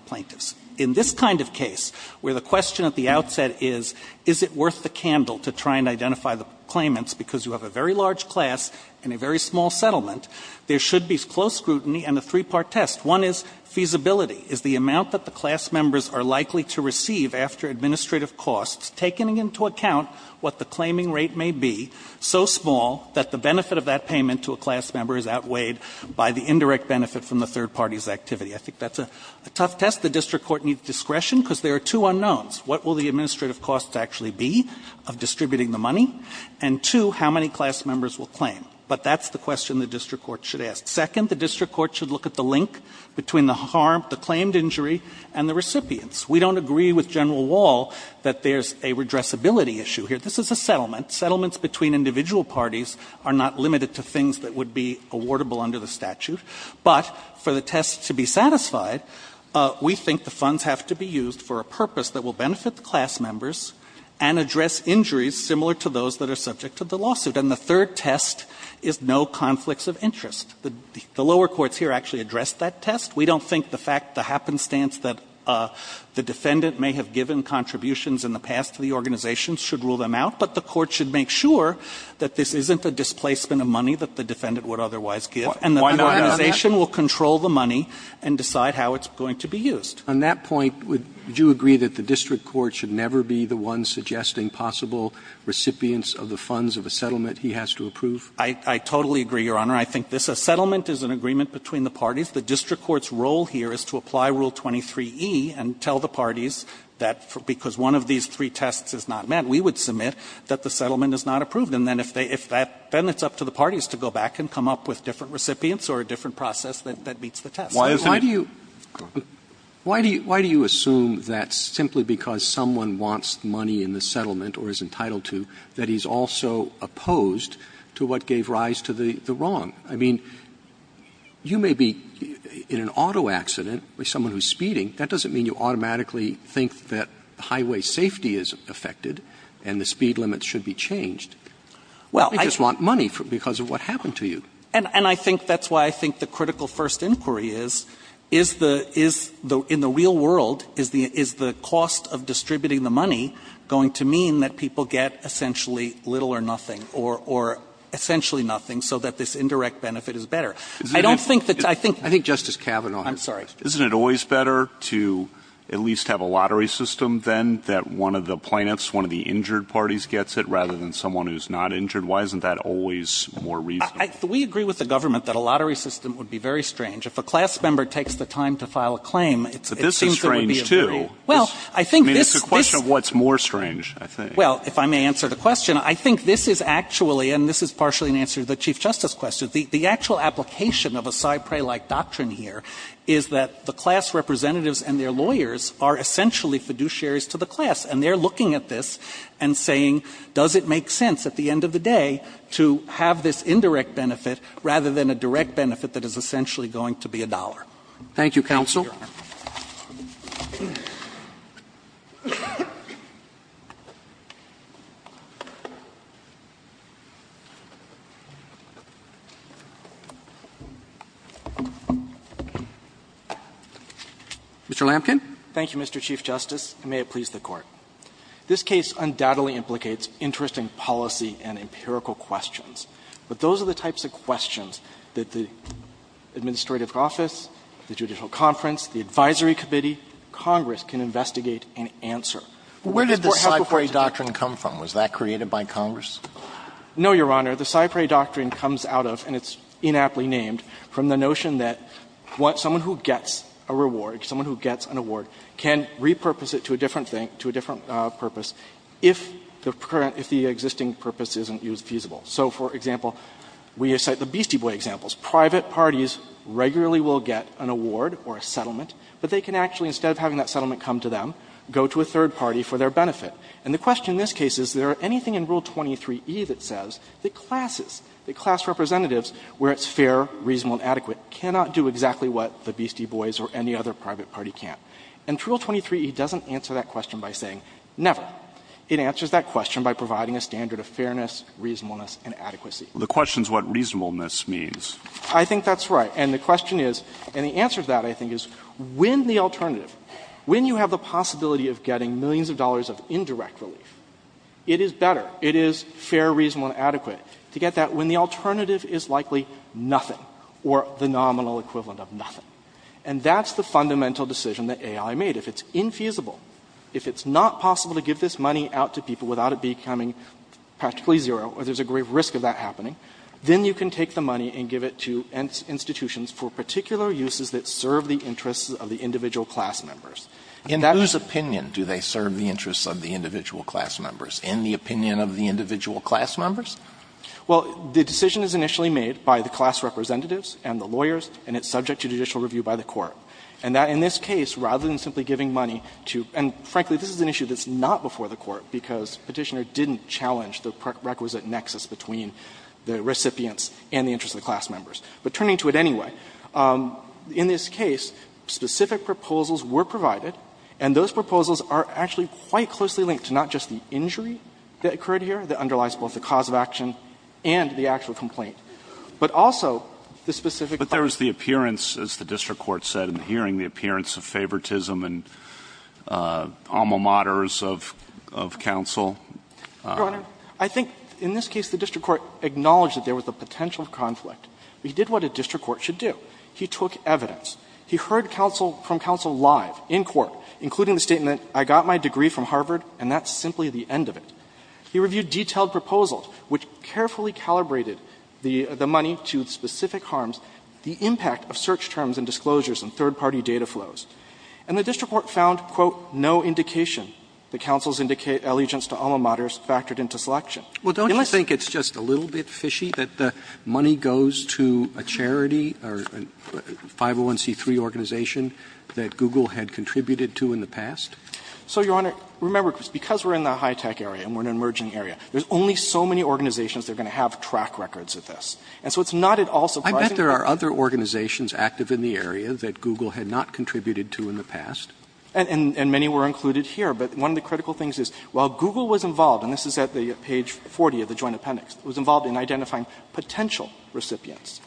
plaintiffs. And I think it's essential to try and identify the claimants because you have a very large class and a very small settlement. There should be close scrutiny and a three-part test. One is feasibility, is the amount that the class members are likely to receive after administrative costs, taking into account what the claiming rate may be, so small that the benefit of that payment to a class member is outweighed by the indirect benefit from the third party's activity. I think that's a tough test. The district court needs discretion because there are two unknowns. One, what will the administrative costs actually be of distributing the money? And two, how many class members will claim? But that's the question the district court should ask. Second, the district court should look at the link between the harm, the claimed injury, and the recipients. We don't agree with General Wall that there's a redressability issue here. This is a settlement. Settlements between individual parties are not limited to things that would be awardable under the statute. And the third test is no conflicts of interest. The lower courts here actually addressed that test. We don't think the fact, the happenstance that the defendant may have given contributions in the past to the organizations should rule them out, but the court should make sure that this isn't a displacement of money that the defendant would otherwise give and that the organization will control the money and decide how it's going to be used. Roberts, on that point, would you agree that the district court should never be the one suggesting possible recipients of the funds of a settlement he has to approve? I totally agree, Your Honor. I think this settlement is an agreement between the parties. The district court's role here is to apply Rule 23e and tell the parties that because one of these three tests is not met, we would submit that the settlement is not approved. And then if they, if that, then it's up to the parties to go back and come up with different recipients or a different process that meets the test. Why do you assume that simply because someone wants money in the settlement or is entitled to, that he's also opposed to what gave rise to the wrong? I mean, you may be in an auto accident with someone who's speeding. That doesn't mean you automatically think that highway safety is affected and the speed limits should be changed. Well, I just want money because of what happened to you. And I think that's why I think the critical first inquiry is, is the, is the, in the real world, is the, is the cost of distributing the money going to mean that people get essentially little or nothing or, or essentially nothing so that this indirect benefit is better? I don't think that, I think. I think Justice Kavanaugh. I'm sorry. Isn't it always better to at least have a lottery system then that one of the plaintiffs, one of the injured parties gets it rather than someone who's not injured? Why isn't that always more reasonable? We agree with the government that a lottery system would be very strange. If a class member takes the time to file a claim, it's, it seems it would be. But this is strange too. Well, I think this. I mean, it's a question of what's more strange, I think. Well, if I may answer the question. I think this is actually, and this is partially an answer to the Chief Justice question. The, the actual application of a Cypre-like doctrine here is that the class representatives and their lawyers are essentially fiduciaries to the class. And they're looking at this and saying, does it make sense at the end of the day to have this indirect benefit rather than a direct benefit that is essentially going to be a dollar? Thank you, Your Honor. Roberts. Mr. Lamken. Thank you, Mr. Chief Justice, and may it please the Court. This case undoubtedly implicates interesting policy and empirical questions. But those are the types of questions that the administrative office, the judicial conference, the advisory committee, Congress can investigate and answer. But where did the Cypre doctrine come from? Was that created by Congress? No, Your Honor. The Cypre doctrine comes out of, and it's inaptly named, from the notion that someone who gets a reward, someone who gets an award, can repurpose it to a different thing, to a different purpose, if the existing purpose isn't feasible. So, for example, we cite the Beastie Boys examples. Private parties regularly will get an award or a settlement, but they can actually instead of having that settlement come to them, go to a third party for their benefit. And the question in this case is, is there anything in Rule 23e that says that classes, that class representatives, where it's fair, reasonable, and adequate, cannot do exactly what the Beastie Boys or any other private party can. And Rule 23e doesn't answer that question by saying never. It answers that question by providing a standard of fairness, reasonableness, and adequacy. The question is what reasonableness means. I think that's right. And the question is, and the answer to that, I think, is when the alternative, when you have the possibility of getting millions of dollars of indirect relief, it is better, it is fair, reasonable, and adequate to get that when the alternative is likely nothing or the nominal equivalent of nothing. And that's the fundamental decision that A.I. made. If it's infeasible, if it's not possible to give this money out to people without it becoming practically zero, or there's a great risk of that happening, then you can take the money and give it to institutions for particular uses that serve the interests of the individual class members. And that's... Alitono, in whose opinion do they serve the interests of the individual class members? In the opinion of the individual class members? Well, the decision is initially made by the class representatives and the lawyers, and it's subject to judicial review by the court. And that in this case, rather than simply giving money to – and frankly, this is an issue that's not before the court because Petitioner didn't challenge the requisite nexus between the recipients and the interests of the class members. But turning to it anyway, in this case, specific proposals were provided, and those proposals are actually quite closely linked to not just the injury that occurred here, that underlies both the cause of action and the actual complaint, but also the specific... But there was the appearance, as the district court said in the hearing, the appearance of favoritism and alma maters of counsel. Your Honor, I think in this case the district court acknowledged that there was a potential conflict. But he did what a district court should do. He took evidence. He heard counsel – from counsel live in court, including the statement, I got my degree from Harvard, and that's simply the end of it. He reviewed detailed proposals, which carefully calibrated the money to specific harms, the impact of search terms and disclosures and third-party data flows. And the district court found, quote, no indication that counsel's allegiance to alma maters factored into selection. Unless... Roberts. Well, don't you think it's just a little bit fishy that the money goes to a charity or a 501c3 organization that Google had contributed to in the past? So, Your Honor, remember, because we're in the high-tech area and we're in an emerging area, there's only so many organizations that are going to have track records of this. And so it's not at all surprising that... Roberts. I bet there are other organizations active in the area that Google had not contributed to in the past. And many were included here. But one of the critical things is, while Google was involved, and this is at the page 40 of the Joint Appendix, it was involved in identifying potential recipients.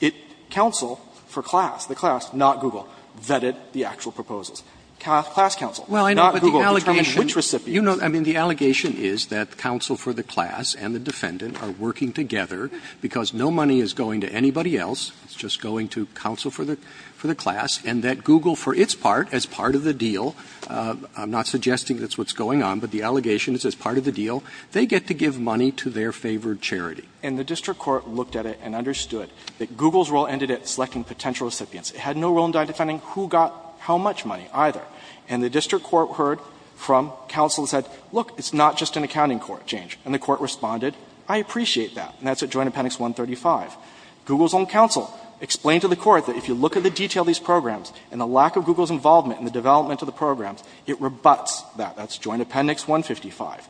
It – counsel for class, the class, not Google, vetted the actual proposals. Class counsel, not Google, determined which recipients. Well, I know, but the allegation – you know, I mean, the allegation is that counsel for the class and the defendant are working together because no money is going to anybody else. It's just going to counsel for the – for the class. And that Google, for its part, as part of the deal – I'm not suggesting that's what's going on, but the allegation is as part of the deal – they get to give money to their favored charity. And the district court looked at it and understood that Google's role ended at selecting potential recipients. It had no role in identifying who got how much money either. And the district court heard from counsel and said, look, it's not just an accounting court change. And the court responded, I appreciate that. And that's at Joint Appendix 135. Google's own counsel explained to the court that if you look at the detail of these programs and the lack of Google's involvement in the development of the programs, it rebuts that. That's Joint Appendix 155.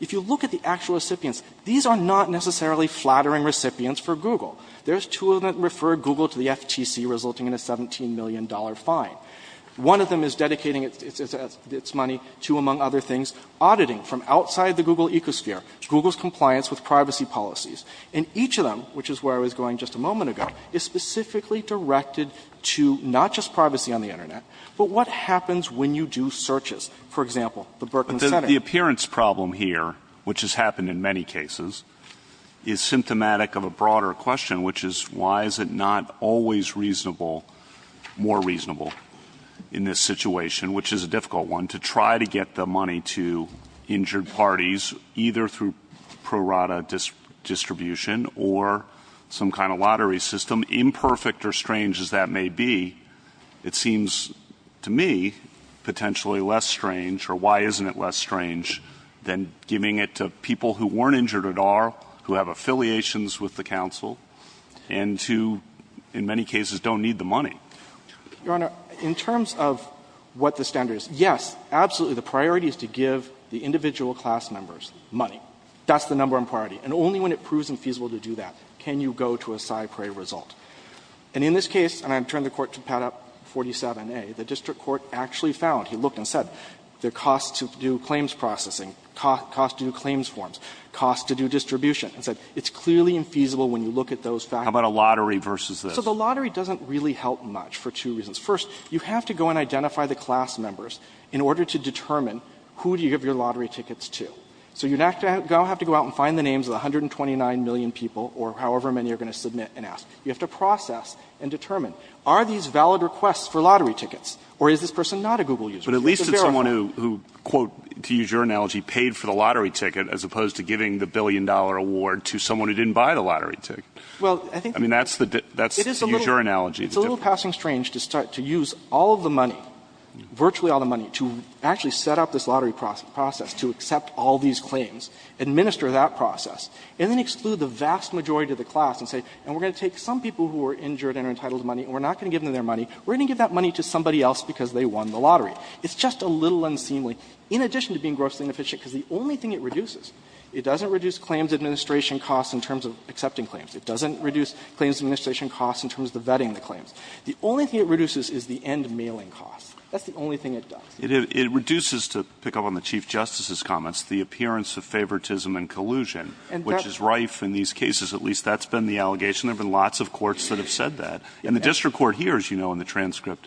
If you look at the actual recipients, these are not necessarily flattering recipients for Google. There's two of them that refer Google to the FTC, resulting in a $17 million fine. One of them is dedicating its – its money to, among other things, auditing from outside the Google ecosphere, Google's compliance with privacy policies. And each of them, which is where I was going just a moment ago, is specifically directed to not just privacy on the Internet, but what happens when you do searches. For example, the Berkman Center. But the appearance problem here, which has happened in many cases, is symptomatic of a broader question, which is why is it not always reasonable – more reasonable in this situation, which is a difficult one – to try to get the money to injured parties, either through pro rata distribution or some kind of lottery system, imperfect or strange as that may be. It seems to me potentially less strange, or why isn't it less strange, than giving it to people who weren't injured at all, who have affiliations with the counsel, and who, in many cases, don't need the money. Your Honor, in terms of what the standard is, yes, absolutely, the priority is to give the individual class members money. That's the number one priority. And only when it proves infeasible to do that can you go to a cy-pre result. And in this case – and I've turned the Court to Pattup 47A – the district court actually found – he looked and said, there are costs to do claims processing, costs to do claims forms, costs to do distribution. It said it's clearly infeasible when you look at those factors. How about a lottery versus this? So the lottery doesn't really help much for two reasons. First, you have to go and identify the class members in order to determine who do you give your lottery tickets to. So you don't have to go out and find the names of the 129 million people or however many you're going to submit and ask. You have to process and determine, are these valid requests for lottery tickets, or is this person not a Google user? But at least it's someone who, quote, to use your analogy, paid for the lottery ticket as opposed to giving the billion-dollar award to someone who didn't buy the lottery ticket. Well, I think – I mean, that's the – that's to use your analogy. It's a little passing strange to start – to use all of the money, virtually all the money, to actually set up this lottery process, to accept all these claims, administer that process, and then exclude the vast majority of the class and say, and we're going to take some people who were injured and are entitled to money and we're not going to give them their money. We're going to give that money to somebody else because they won the lottery. It's just a little unseemly, in addition to being grossly inefficient, because the only thing it reduces, it doesn't reduce claims administration costs in terms of accepting claims. It doesn't reduce claims administration costs in terms of vetting the claims. The only thing it reduces is the end mailing costs. That's the only thing it does. It – it reduces, to pick up on the Chief Justice's comments, the appearance of favoritism and collusion, which is rife in these cases. At least that's been the allegation. There have been lots of courts that have said that. And the district court here, as you know in the transcript,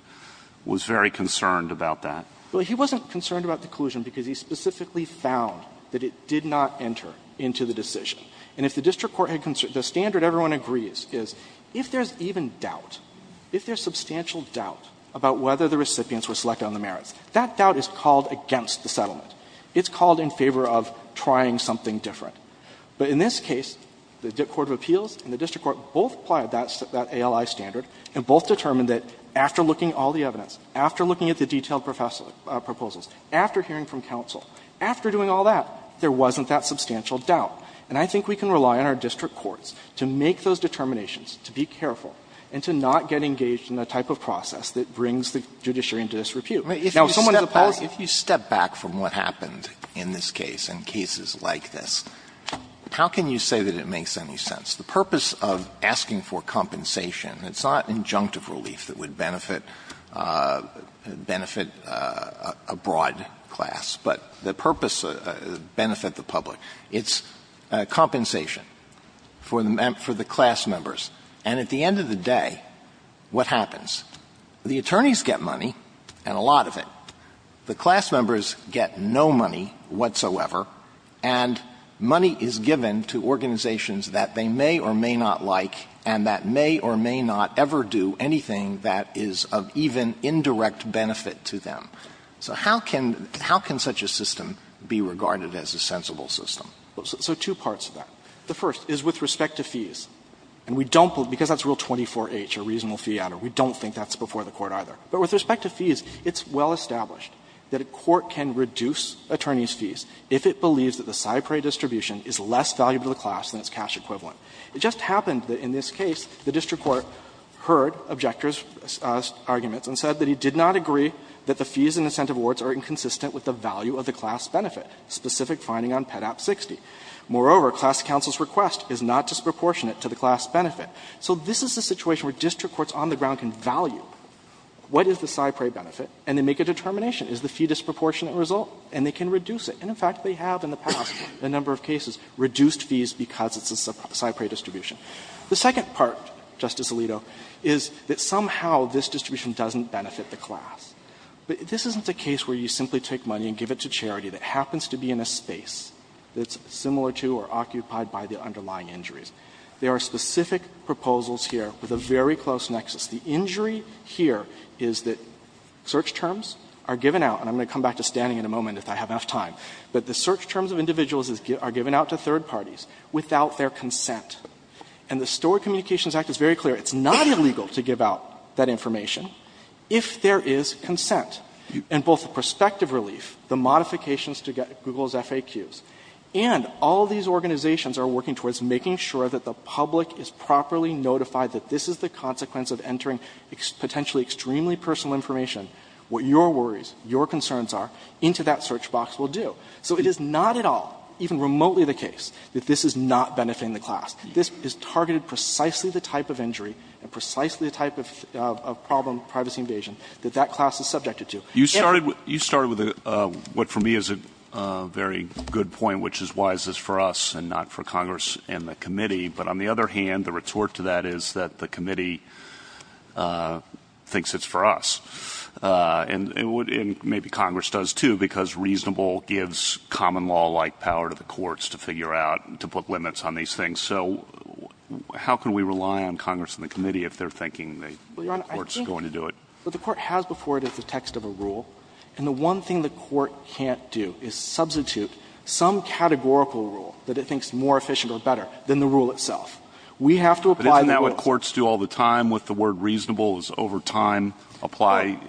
was very concerned about that. Well, he wasn't concerned about the collusion because he specifically found that it did not enter into the decision. And if the district court had – the standard everyone agrees is, if there's even a doubt, if there's substantial doubt about whether the recipients were selected on the merits, that doubt is called against the settlement. It's called in favor of trying something different. But in this case, the court of appeals and the district court both applied that ALI standard and both determined that after looking at all the evidence, after looking at the detailed proposals, after hearing from counsel, after doing all that, there wasn't that substantial doubt. And I think we can rely on our district courts to make those determinations, to be careful, and to not get engaged in the type of process that brings the judiciary into this repute. Now, if someone is a policy – Alito, if you step back from what happened in this case and cases like this, how can you say that it makes any sense? The purpose of asking for compensation, it's not injunctive relief that would benefit a broad class, but the purpose would benefit the public. It's compensation for the class members. And at the end of the day, what happens? The attorneys get money, and a lot of it. The class members get no money whatsoever, and money is given to organizations that they may or may not like and that may or may not ever do anything that is of even indirect benefit to them. So how can – how can such a system be regarded as a sensible system? So two parts of that. The first is with respect to fees. And we don't – because that's Rule 24H, a reasonable fee adder, we don't think that's before the Court either. But with respect to fees, it's well established that a court can reduce attorneys' fees if it believes that the Cypre distribution is less valuable to the class than its cash equivalent. It just happened that in this case, the district court heard objectors' arguments and said that he did not agree that the fees and incentive awards are inconsistent with the value of the class benefit, a specific finding on PEDAP 60. Moreover, class counsel's request is not disproportionate to the class benefit. So this is a situation where district courts on the ground can value what is the Cypre benefit, and they make a determination. Is the fee disproportionate result? And they can reduce it. And in fact, they have in the past, in a number of cases, reduced fees because it's a Cypre distribution. The second part, Justice Alito, is that somehow this distribution doesn't benefit the class. This isn't a case where you simply take money and give it to charity that happens to be in a space that's similar to or occupied by the underlying injuries. There are specific proposals here with a very close nexus. The injury here is that search terms are given out, and I'm going to come back to standing in a moment if I have enough time, but the search terms of individuals are given out to third parties without their consent. And the Stored Communications Act is very clear. It's not illegal to give out that information if there is consent. And both the prospective relief, the modifications to get Google's FAQs, and all these organizations are working towards making sure that the public is properly notified that this is the consequence of entering potentially extremely personal information, what your worries, your concerns are, into that search box will do. So it is not at all, even remotely the case, that this is not benefiting the class. This is targeted precisely the type of injury and precisely the type of problem of privacy invasion that that class is subjected to. You started with what for me is a very good point, which is why this is for us and not for Congress and the committee. But on the other hand, the retort to that is that the committee thinks it's for us. And maybe Congress does, too, because reasonable gives common law-like power to the courts to figure out, to put limits on these things. So how can we rely on Congress and the committee if they're thinking the court's going to do it? Well, Your Honor, I think what the court has before it is the text of a rule. And the one thing the court can't do is substitute some categorical rule that it thinks more efficient or better than the rule itself. We have to apply the rules. But isn't that what courts do all the time with the word reasonable? The rule is over time, apply,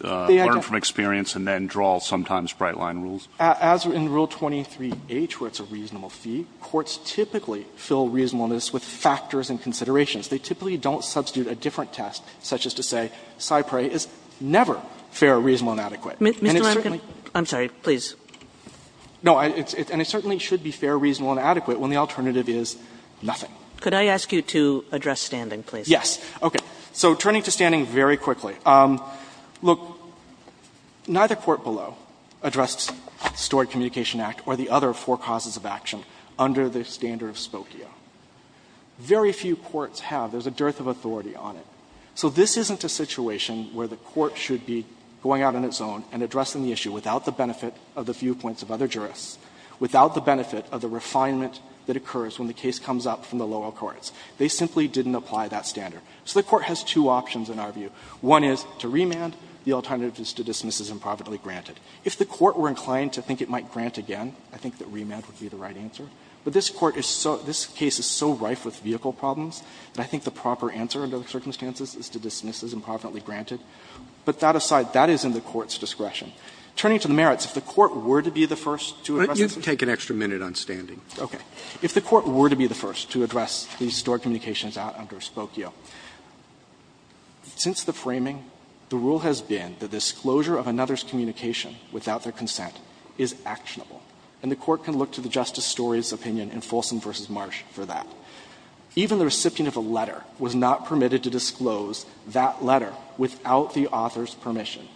learn from experience, and then draw sometimes bright-line rules. As in Rule 23H, where it's a reasonable fee, courts typically fill reasonableness with factors and considerations. They typically don't substitute a different test, such as to say Cyprey is never fair, reasonable, and adequate. And it's certainly. Kagan. I'm sorry. Please. No. And it certainly should be fair, reasonable, and adequate when the alternative is nothing. Could I ask you to address standing, please? Yes. Okay. So turning to standing very quickly. Look, neither court below addressed the Stored Communication Act or the other four causes of action under the standard of spokio. Very few courts have. There's a dearth of authority on it. So this isn't a situation where the court should be going out on its own and addressing the issue without the benefit of the viewpoints of other jurists, without the benefit of the refinement that occurs when the case comes up from the lower courts. They simply didn't apply that standard. So the court has two options in our view. One is to remand. The alternative is to dismiss as improperly granted. If the court were inclined to think it might grant again, I think that remand would be the right answer. But this court is so – this case is so rife with vehicle problems that I think the proper answer under the circumstances is to dismiss as improperly granted. But that aside, that is in the court's discretion. Turning to the merits, if the court were to be the first to address this. Let me take an extra minute on standing. Okay. If the court were to be the first to address the Stored Communications Act under Spokio, since the framing, the rule has been that disclosure of another's communication without their consent is actionable, and the court can look to the Justice Story's opinion in Folsom v. Marsh for that. Even the recipient of a letter was not permitted to disclose that letter without the author's permission.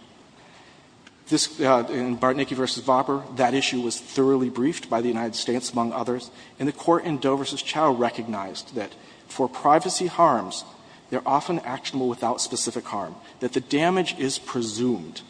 This – in Bartnicki v. Vopper, that issue was thoroughly briefed by the United States, among others, and the court in Doe v. Chau recognized that for privacy harms, they're often actionable without specific harm, that the damage is presumed.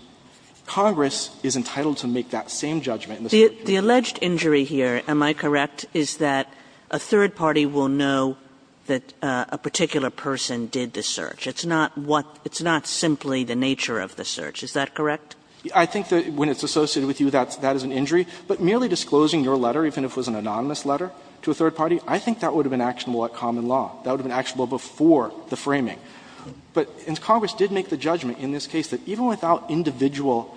Congress is entitled to make that same judgment in the search. Kagan. The alleged injury here, am I correct, is that a third party will know that a particular person did the search. It's not what – it's not simply the nature of the search. Is that correct? I think that when it's associated with you, that's – that is an injury. But merely disclosing your letter, even if it was an anonymous letter to a third party, I think that would have been actionable at common law. That would have been actionable before the framing. But – and Congress did make the judgment in this case that even without individual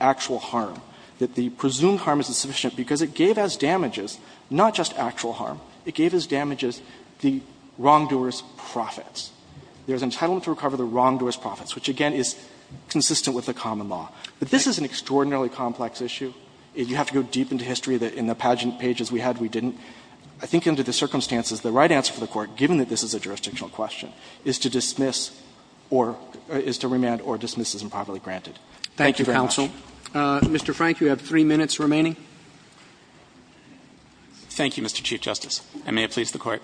actual harm, that the presumed harm isn't sufficient, because it gave as damages not just actual harm, it gave as damages the wrongdoer's profits. There's entitlement to recover the wrongdoer's profits, which, again, is consistent with the common law. But this is an extraordinarily complex issue. You have to go deep into history that in the pageant pages we had, we didn't. I think under the circumstances, the right answer for the Court, given that this is a jurisdictional question, is to dismiss or – is to remand or dismiss as improperly granted. Thank you very much. Roberts. Mr. Frank, you have three minutes remaining. Thank you, Mr. Chief Justice, and may it please the Court.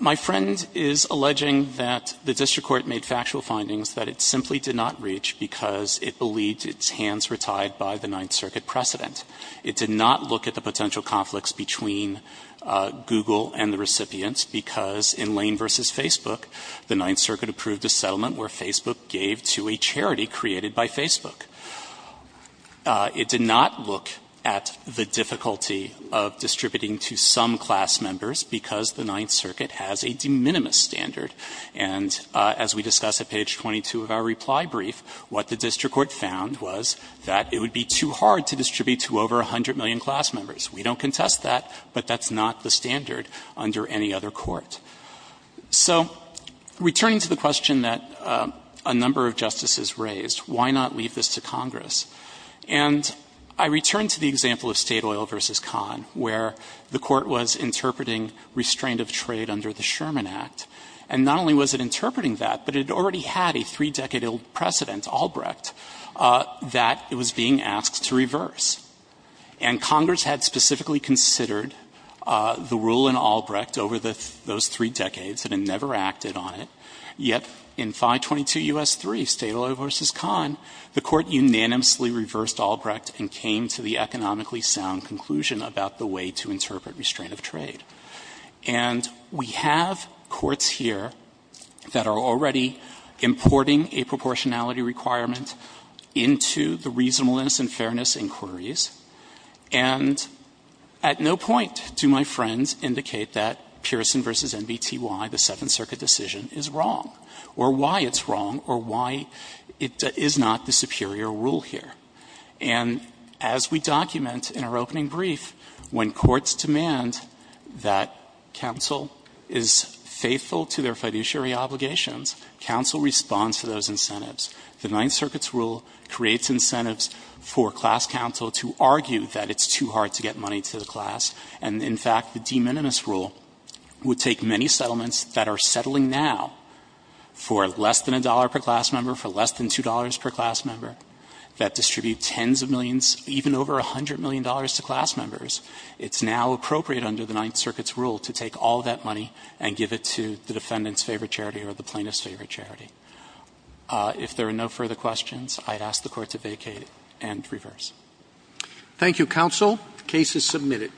My friend is alleging that the district court made factual findings that it simply did not reach because it believed its hands were tied by the Ninth Circuit precedent. It did not look at the potential conflicts between Google and the recipients because in Lane v. Facebook, the Ninth Circuit approved a settlement where Facebook gave to a charity created by Facebook. It did not look at the difficulty of distributing to some class members because the Ninth Circuit has a de minimis standard. And as we discussed at page 22 of our reply brief, what the district court found was that it would be too hard to distribute to over 100 million class members. We don't contest that, but that's not the standard under any other court. So returning to the question that a number of justices raised, why not leave this to Congress? And I return to the example of State Oil v. Kahn, where the Court was interpreting restraint of trade under the Sherman Act. And not only was it interpreting that, but it had already had a three-decade old precedent, Albrecht, that it was being asked to reverse. And Congress had specifically considered the rule in Albrecht over those three decades and had never acted on it, yet in 522 U.S. 3, State Oil v. Kahn, the Court unanimously reversed Albrecht and came to the economically sound conclusion about the way to interpret restraint of trade. And we have courts here that are already importing a proportionality requirement into the reasonableness and fairness inquiries. And at no point do my friends indicate that Pearson v. NBTY, the Seventh Circuit decision, is wrong or why it's wrong or why it is not the superior rule here. And as we document in our opening brief, when courts demand that counsel is faithful to their fiduciary obligations, counsel responds to those incentives. The Ninth Circuit's rule creates incentives for class counsel to argue that it's too hard to get money to the class. And, in fact, the de minimis rule would take many settlements that are settling now for less than a dollar per class member, for less than $2 per class member, that distribute tens of millions, even over $100 million to class members. It's now appropriate under the Ninth Circuit's rule to take all that money and give it to the defendant's favorite charity or the plaintiff's favorite charity. If there are no further questions, I'd ask the Court to vacate and reverse. Roberts. Thank you, counsel. The case is submitted.